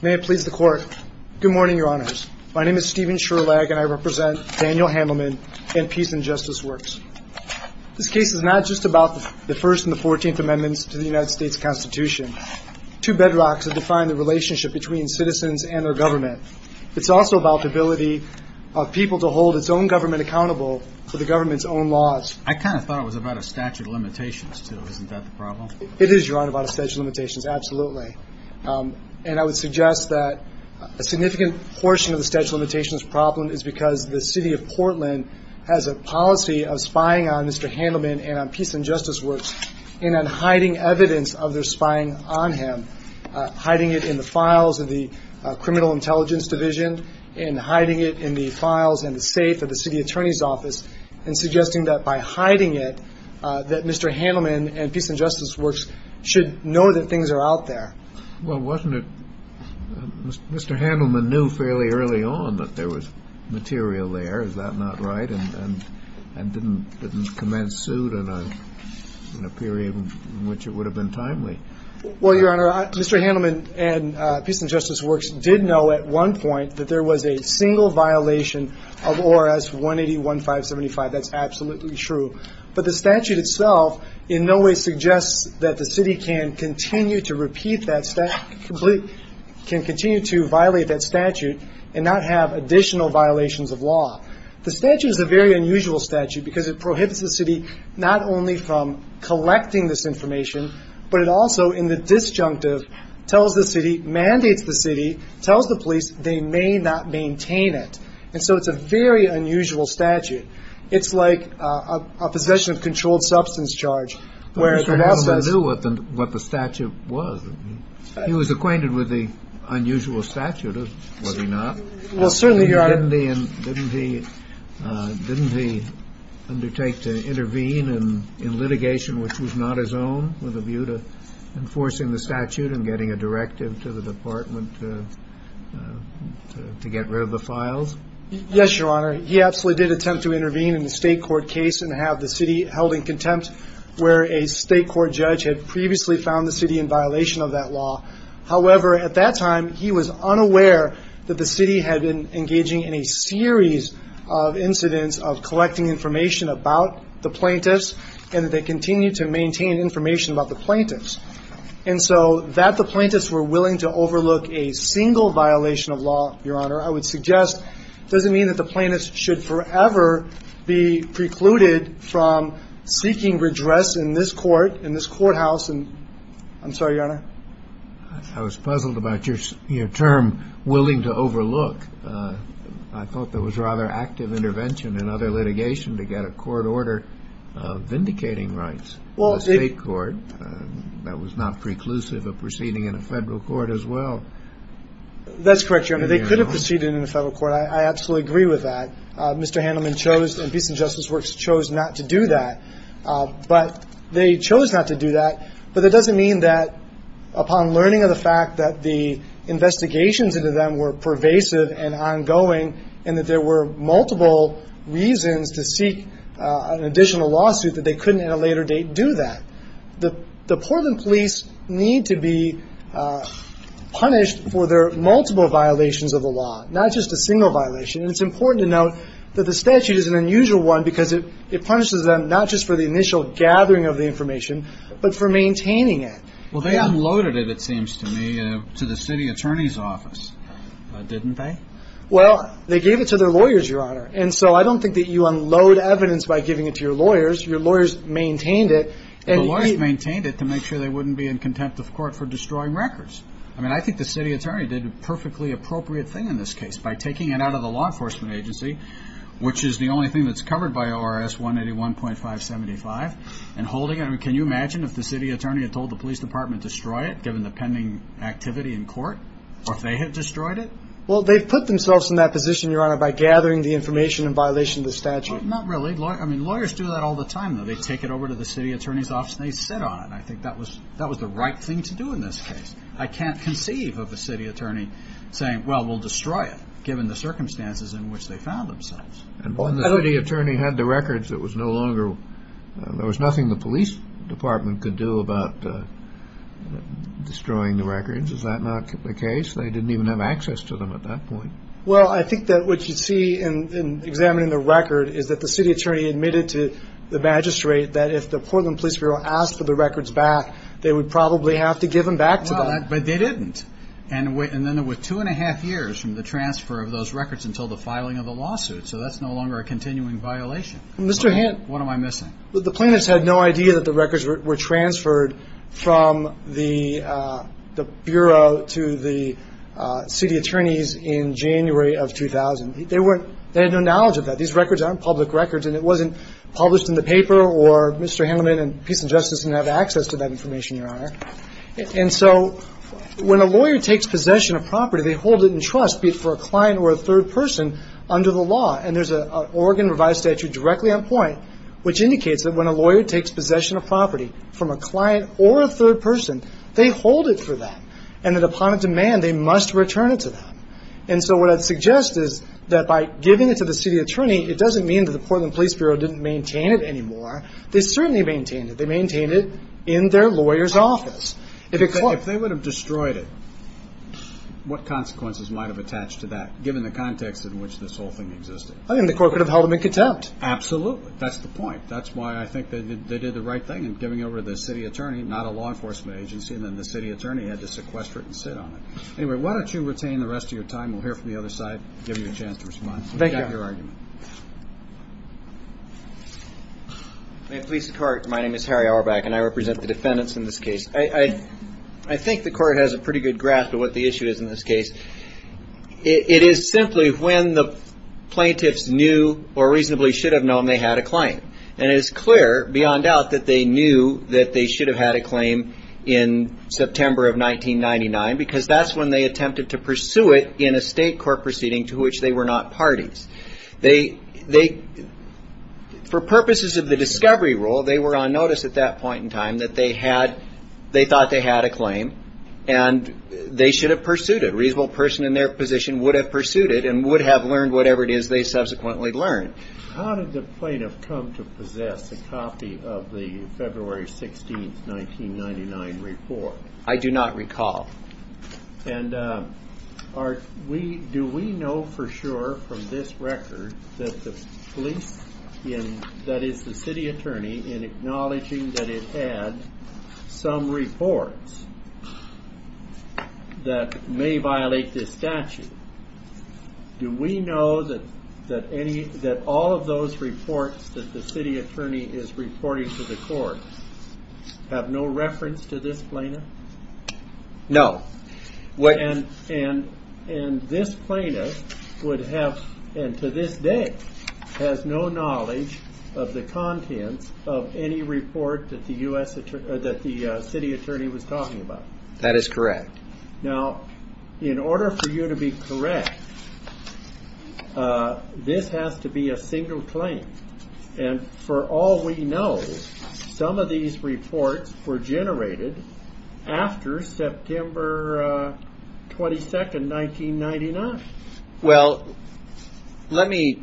May it please the court. Good morning, your honors. My name is Stephen Sherlag and I represent Daniel Hamelman and Peace and Justice Works. This case is not just about the first and the 14th amendments to the United States Constitution. Two bedrocks have defined the relationship between citizens and their government. It's also about the ability of people to hold its own government accountable for the government's own laws. I kind of thought it was about a statute of limitations, too. Isn't that the problem? It is, your honor, about a statute of limitations, absolutely. And I would suggest that a significant portion of the statute of limitations problem is because the City of Portland has a policy of spying on Mr. Hamelman and on Peace and Justice Works and on hiding evidence of their spying on him. Hiding it in the files of the Criminal Intelligence Division and hiding it in the files and the safe of the city attorney's office and suggesting that by hiding it that Mr. Hamelman and Peace and Justice Works should know that things are out there. Well, wasn't it Mr. Hamelman knew fairly early on that there was material there, is that not right, and didn't commence suit in a period in which it would have been timely? Well, your honor, Mr. Hamelman and Peace and Justice Works did know at one point that there was a single violation of ORS 180.1575. That's absolutely true. But the statute itself in no way suggests that the city can continue to violate that statute and not have additional violations of law. The statute is a very unusual statute because it prohibits the city not only from collecting this information, but it also in the disjunctive tells the city, mandates the city, tells the police they may not maintain it. And so it's a very unusual statute. It's like a possession of controlled substance charge. Mr. Hamelman knew what the statute was. He was acquainted with the unusual statute, was he not? Well, certainly, your honor. Didn't he undertake to intervene in litigation which was not his own with a statute and getting a directive to the department to get rid of the files? Yes, your honor. He absolutely did attempt to intervene in the state court case and have the city held in contempt where a state court judge had previously found the city in violation of that law. However, at that time, he was unaware that the city had been engaging in a series of incidents of collecting information about the plaintiffs. And so that the plaintiffs were willing to overlook a single violation of law, your honor, I would suggest doesn't mean that the plaintiffs should forever be precluded from seeking redress in this court, in this courthouse. And I'm sorry, your honor. I was puzzled about your term, willing to overlook. I thought that was rather active intervention in other litigation to get a court order vindicating rights in the state court. That was not preclusive of proceeding in a federal court as well. That's correct, your honor. They could have proceeded in a federal court. I absolutely agree with that. Mr. Handelman chose, in Peace and Justice Works, chose not to do that. But they chose not to do that. But that doesn't mean that upon learning of the fact that the investigations into them were pervasive and ongoing and that there were multiple reasons to seek an additional lawsuit that they couldn't at a later date do that. The Portland police need to be punished for their multiple violations of the law, not just a single violation. And it's important to note that the statute is an unusual one because it punishes them not just for the initial gathering of the information, but for maintaining it. Well, they unloaded it, it seems to me, to the city attorney's office, didn't they? Well, they gave it to their lawyers, your lawyers maintained it. The lawyers maintained it to make sure they wouldn't be in contempt of court for destroying records. I mean, I think the city attorney did a perfectly appropriate thing in this case by taking it out of the law enforcement agency, which is the only thing that's covered by ORS 181.575, and holding it. Can you imagine if the city attorney had told the police department to destroy it, given the pending activity in court, or if they had destroyed it? Well, they've put themselves in that position, your honor, by gathering the information in violation of the statute. Not really. I mean, lawyers do that all the time, though. They take it over to the city attorney's office, and they sit on it. I think that was the right thing to do in this case. I can't conceive of a city attorney saying, well, we'll destroy it, given the circumstances in which they found themselves. And when the city attorney had the records, it was no longer, there was nothing the police department could do about destroying the records. Is that not the case? They didn't even have access to them at that point. Well, I think that what you see in examining the record is that the city attorney admitted to the magistrate that if the Portland Police Bureau asked for the records back, they would probably have to give them back to them. But they didn't. And then it was two and a half years from the transfer of those records until the filing of the lawsuit. So that's no longer a continuing violation. Mr. Hant, what am I missing? The plaintiffs had no idea that the records were transferred from the city attorneys in January of 2000. They had no knowledge of that. These records aren't public records, and it wasn't published in the paper, or Mr. Hanleman and Peace and Justice didn't have access to that information, Your Honor. And so when a lawyer takes possession of property, they hold it in trust, be it for a client or a third person, under the law. And there's an Oregon revised statute directly on point, which indicates that when a lawyer takes possession of property from a client or a third person, they hold it for them. And that upon a demand, they must return it to them. And so what I'd suggest is that by giving it to the city attorney, it doesn't mean that the Portland Police Bureau didn't maintain it anymore. They certainly maintained it. They maintained it in their lawyer's office. If they would have destroyed it, what consequences might have attached to that, given the context in which this whole thing existed? I think the court could have held them in contempt. Absolutely. That's the point. That's why I think they did the right thing in giving over to the city attorney, not a law enforcement agency, and then the city attorney had to sequester it and anyway, why don't you retain the rest of your time? We'll hear from the other side, give you a chance to respond. Thank you. We've got your argument. May it please the court, my name is Harry Auerbach and I represent the defendants in this case. I think the court has a pretty good grasp of what the issue is in this case. It is simply when the plaintiffs knew or reasonably should have known they had a claim. And it is clear beyond doubt that they knew that they should have had a claim in September of 1999, because that's when they attempted to pursue it in a state court proceeding to which they were not parties. For purposes of the discovery rule, they were on notice at that point in time that they thought they had a claim and they should have pursued it. A reasonable person in their position would have pursued it and would have learned whatever it is they subsequently learned. How did the plaintiff come to the 19th, 1999 report? I do not recall. And do we know for sure from this record that the police, that is the city attorney, in acknowledging that it had some reports that may violate this statute, do we know that all of those have no reference to this plaintiff? No. And this plaintiff would have, and to this day, has no knowledge of the contents of any report that the city attorney was talking about? That is correct. Now, in order for you to be generated after September 22, 1999? Well, let me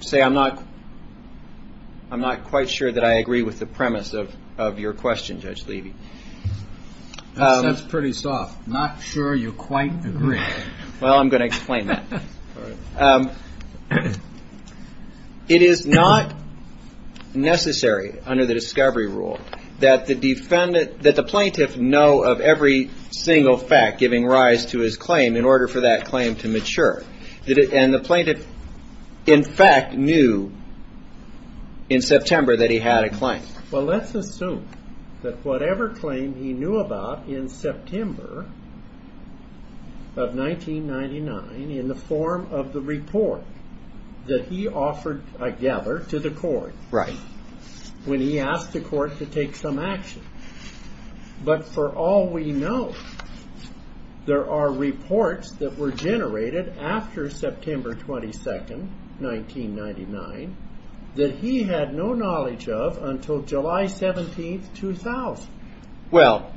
say I'm not quite sure that I agree with the premise of your question, Judge Levy. That's pretty soft. Not sure you quite agree. Well, I'm going to explain that. It is not necessary under the discovery rule that the plaintiff know of every single fact giving rise to his claim in order for that claim to mature. And the plaintiff, in fact, knew in September that he had a claim. Well, let's assume that whatever claim he knew about in September of 1999 in the form of the report that he offered together to the court. Right. When he asked the court to take some action. But for all we know, there are reports that were generated after September 22, 1999, that he had no knowledge of until July 17, 2000. Well,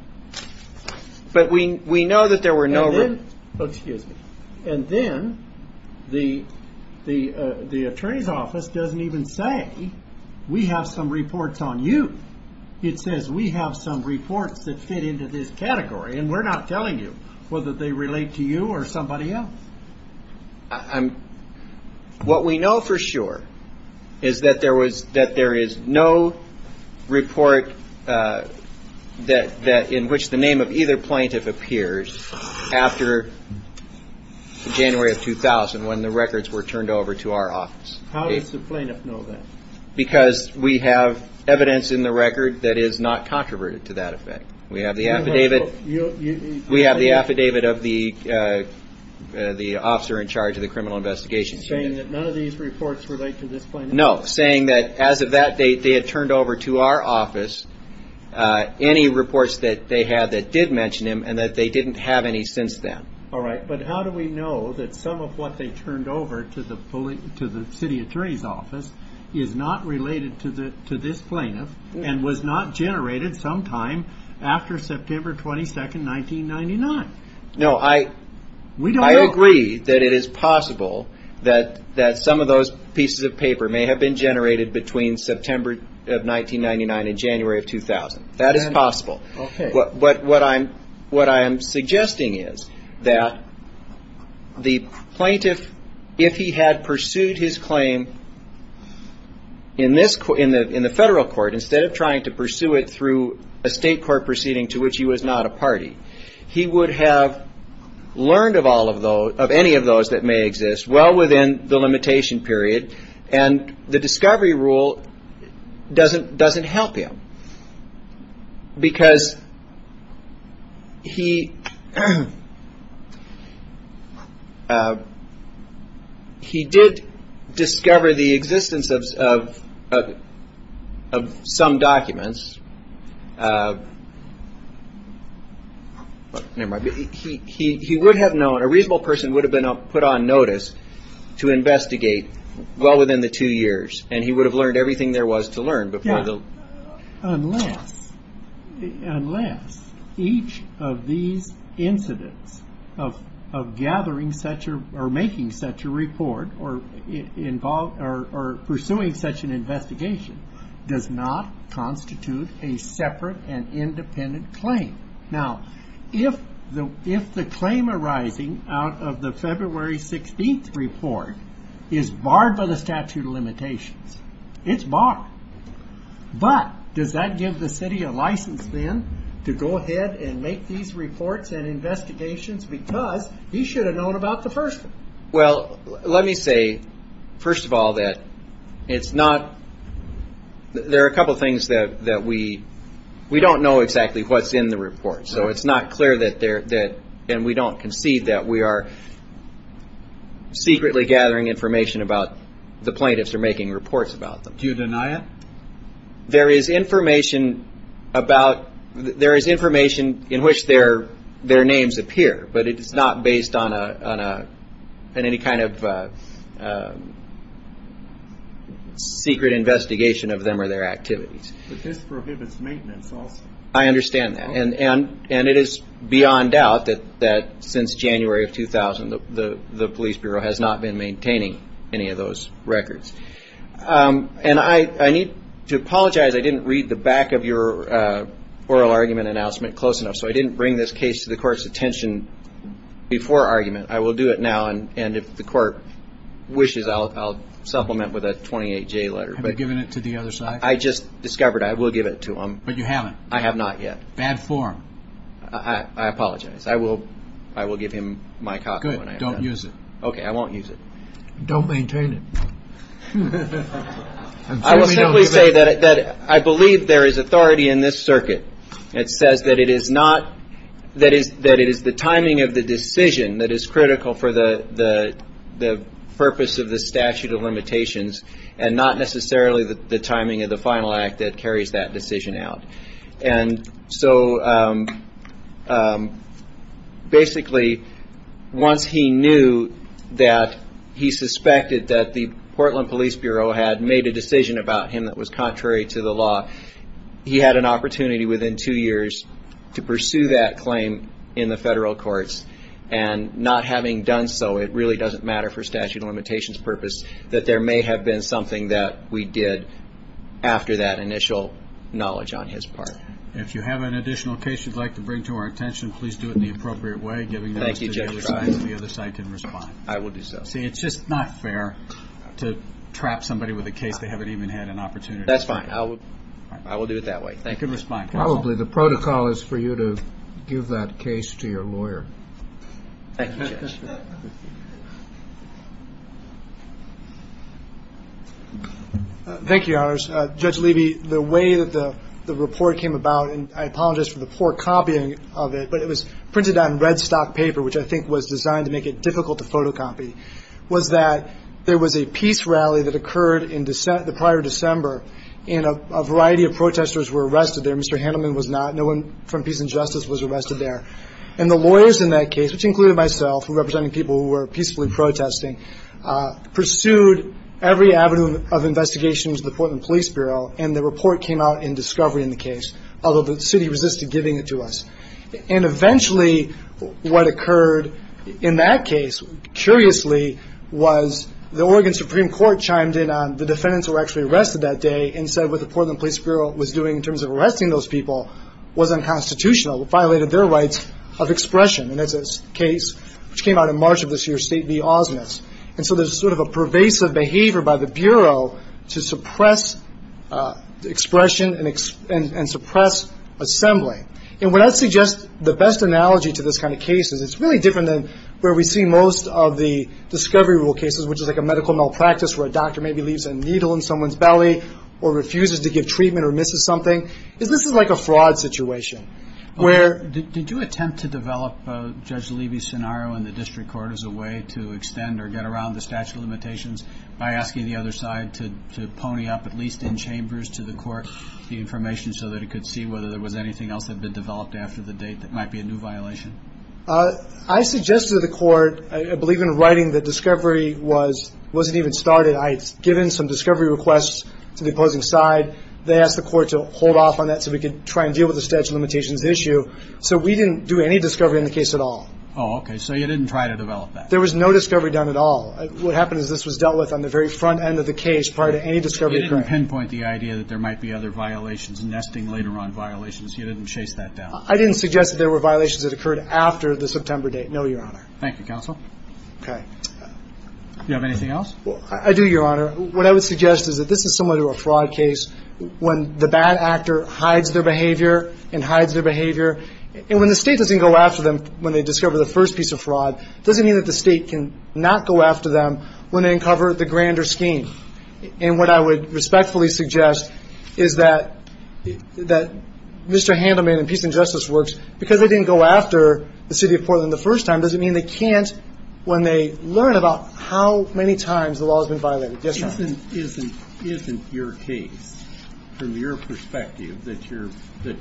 excuse me. And then the attorney's office doesn't even say, we have some reports on you. It says we have some reports that fit into this category and we're not telling you whether they relate to you or somebody else. What we plaintiff appears after January of 2000, when the records were turned over to our office. How does the plaintiff know that? Because we have evidence in the record that is not controverted to that effect. We have the affidavit. We have the affidavit of the officer in charge of the criminal investigation. Saying that none of these reports relate to this plaintiff? No. Saying that as of that date, they had turned over to our office any reports that they had that did mention him and that they didn't have any since then. All right. But how do we know that some of what they turned over to the city attorney's office is not related to this plaintiff and was not generated sometime after September 22, 1999? No, I agree that it is possible that some of those pieces of evidence are related to September of 1999 and January of 2000. That is possible. Okay. But what I'm suggesting is that the plaintiff, if he had pursued his claim in the federal court, instead of trying to pursue it through a state court proceeding to which he was not a party, he would have learned of all of those, of any of those that may exist, well within the limitation period, and the discovery rule doesn't help him. Because he did discover the existence of some documents. He would have known, a reasonable person would have been put on notice to investigate well within the two years, and he would have learned everything there was to learn. Yeah. Unless each of these incidents of gathering such or making such a report or pursuing such an investigation does not constitute a separate and independent claim. Now, if the claim arising out of the February 16th report is barred by the statute of limitations, it's barred. But does that give the city a license then to go ahead and make these reports and investigations because he should have known about the first one? Well, let me say, first of all, that it's not, there are a couple of things that we, we don't know exactly what's in the report. So it's not clear that there, that, and we don't concede that we are secretly gathering information about the plaintiffs or making reports about them. Do you deny it? There is information about, there is information in which their, their names appear, but it is not based on a, on a, on any kind of secret investigation of them or their activities. But this prohibits maintenance also. I mean, it is beyond doubt that, that since January of 2000, the, the, the police bureau has not been maintaining any of those records. And I, I need to apologize. I didn't read the back of your oral argument announcement close enough. So I didn't bring this case to the court's attention before argument. I will do it now. And, and if the court wishes, I'll, I'll supplement with a 28 J letter, but given it to the other side, I just discovered I will give it to him. But you haven't? I have not yet. Bad form. I apologize. I will, I will give him my copy. Good. Don't use it. Okay. I won't use it. Don't maintain it. I will simply say that, that I believe there is authority in this circuit. It says that it is not, that is, that it is the timing of the decision that is critical for the, the, the purpose of the statute of limitations and not necessarily the, the And so basically once he knew that he suspected that the Portland Police Bureau had made a decision about him that was contrary to the law, he had an opportunity within two years to pursue that claim in the federal courts and not having done so, it really doesn't matter for statute of limitations purpose, that there may have been something that we did after that initial knowledge on his part. If you have an additional case you'd like to bring to our attention, please do it in the appropriate way, giving the other side can respond. I will do so. See, it's just not fair to trap somebody with a case they haven't even had an opportunity. That's fine. I will, I will do it that way. You can respond. Probably the protocol is for you to give that case to your lawyer. Thank you, Judge. Thank you, Your Honors. Judge Levy, the way that the report came about, and I apologize for the poor copying of it, but it was printed on red stock paper, which I think was designed to make it difficult to photocopy, was that there was a peace rally that occurred in the prior December and a variety of protesters were arrested there. Mr. Handelman was not. No one from Peace and Justice was arrested there. And the lawyers in that case, which included myself, representing people who were peacefully protesting, pursued every avenue of investigation to the Portland Police Bureau and the report came out in discovery in the case, although the city resisted giving it to us. And eventually what occurred in that case, curiously, was the Oregon Supreme Court chimed in on the defendants who were actually arrested that day and said what the Portland Police Bureau was doing in terms of arresting those people was unconstitutional, violated their rights of expression. And that's a case which came out in March of this year, State v. Ausmus. And so there's sort of a pervasive behavior by the Bureau to suppress expression and suppress assembly. And when I suggest the best analogy to this kind of case is it's really different than where we see most of the discovery rule cases, which is like a medical malpractice where a doctor maybe leaves a needle in someone's hand to give treatment or misses something. This is like a fraud situation. Where... Did you attempt to develop Judge Levy's scenario in the district court as a way to extend or get around the statute of limitations by asking the other side to pony up at least in chambers to the court the information so that it could see whether there was anything else that had been developed after the date that might be a new violation? I suggested to the court, I believe in writing, that discovery wasn't even started. I'd given some discovery requests to the opposing side. They asked the court to hold off on that so we could try and deal with the statute of limitations issue. So we didn't do any discovery in the case at all. Oh, okay. So you didn't try to develop that? There was no discovery done at all. What happened is this was dealt with on the very front end of the case prior to any discovery occurring. You didn't pinpoint the idea that there might be other violations, nesting later on violations. You didn't chase that down? I didn't suggest that there were violations that occurred after the September date, no, Your Honor. Thank you, counsel. Okay. Do you have anything else? I do, Your Honor. What I would suggest is that this is similar to a fraud case when the bad actor hides their behavior and hides their behavior. And when the state doesn't go after them when they discover the first piece of fraud, it doesn't mean that the state can not go after them when they uncover the grander scheme. And what I would respectfully suggest is that Mr. Handelman and Peace and Justice Works, because they didn't go after the city of Portland the first time doesn't mean they can't when they learn about how many times the law has been violated. Isn't your case, from your perspective, that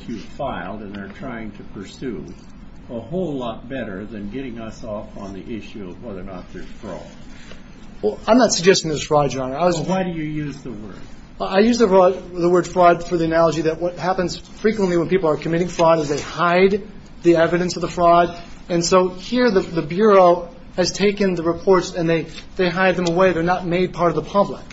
you filed and are trying to pursue a whole lot better than getting us off on the issue of whether or not there's fraud? Well, I'm not suggesting there's fraud, Your Honor. I was Why do you use the word? I use the word fraud for the analogy that what happens frequently when people are committing fraud is they hide the evidence of the fraud. And so here the police don't hide them away. They're not made part of the public.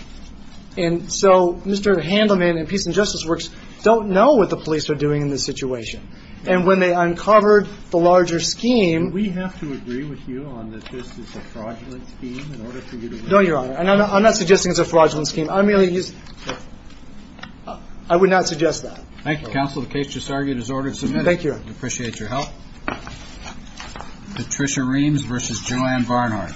And so Mr. Handelman and Peace and Justice Works don't know what the police are doing in this situation. And when they uncovered the larger scheme Do we have to agree with you on that this is a fraudulent scheme in order for you to No, Your Honor. And I'm not suggesting it's a fraudulent scheme. I'm merely using I would not suggest that. Thank you, counsel. The case just argued is ordered and submitted. Thank you. Thank you. Appreciate your help. Patricia Reams v. Joanne Barnhart.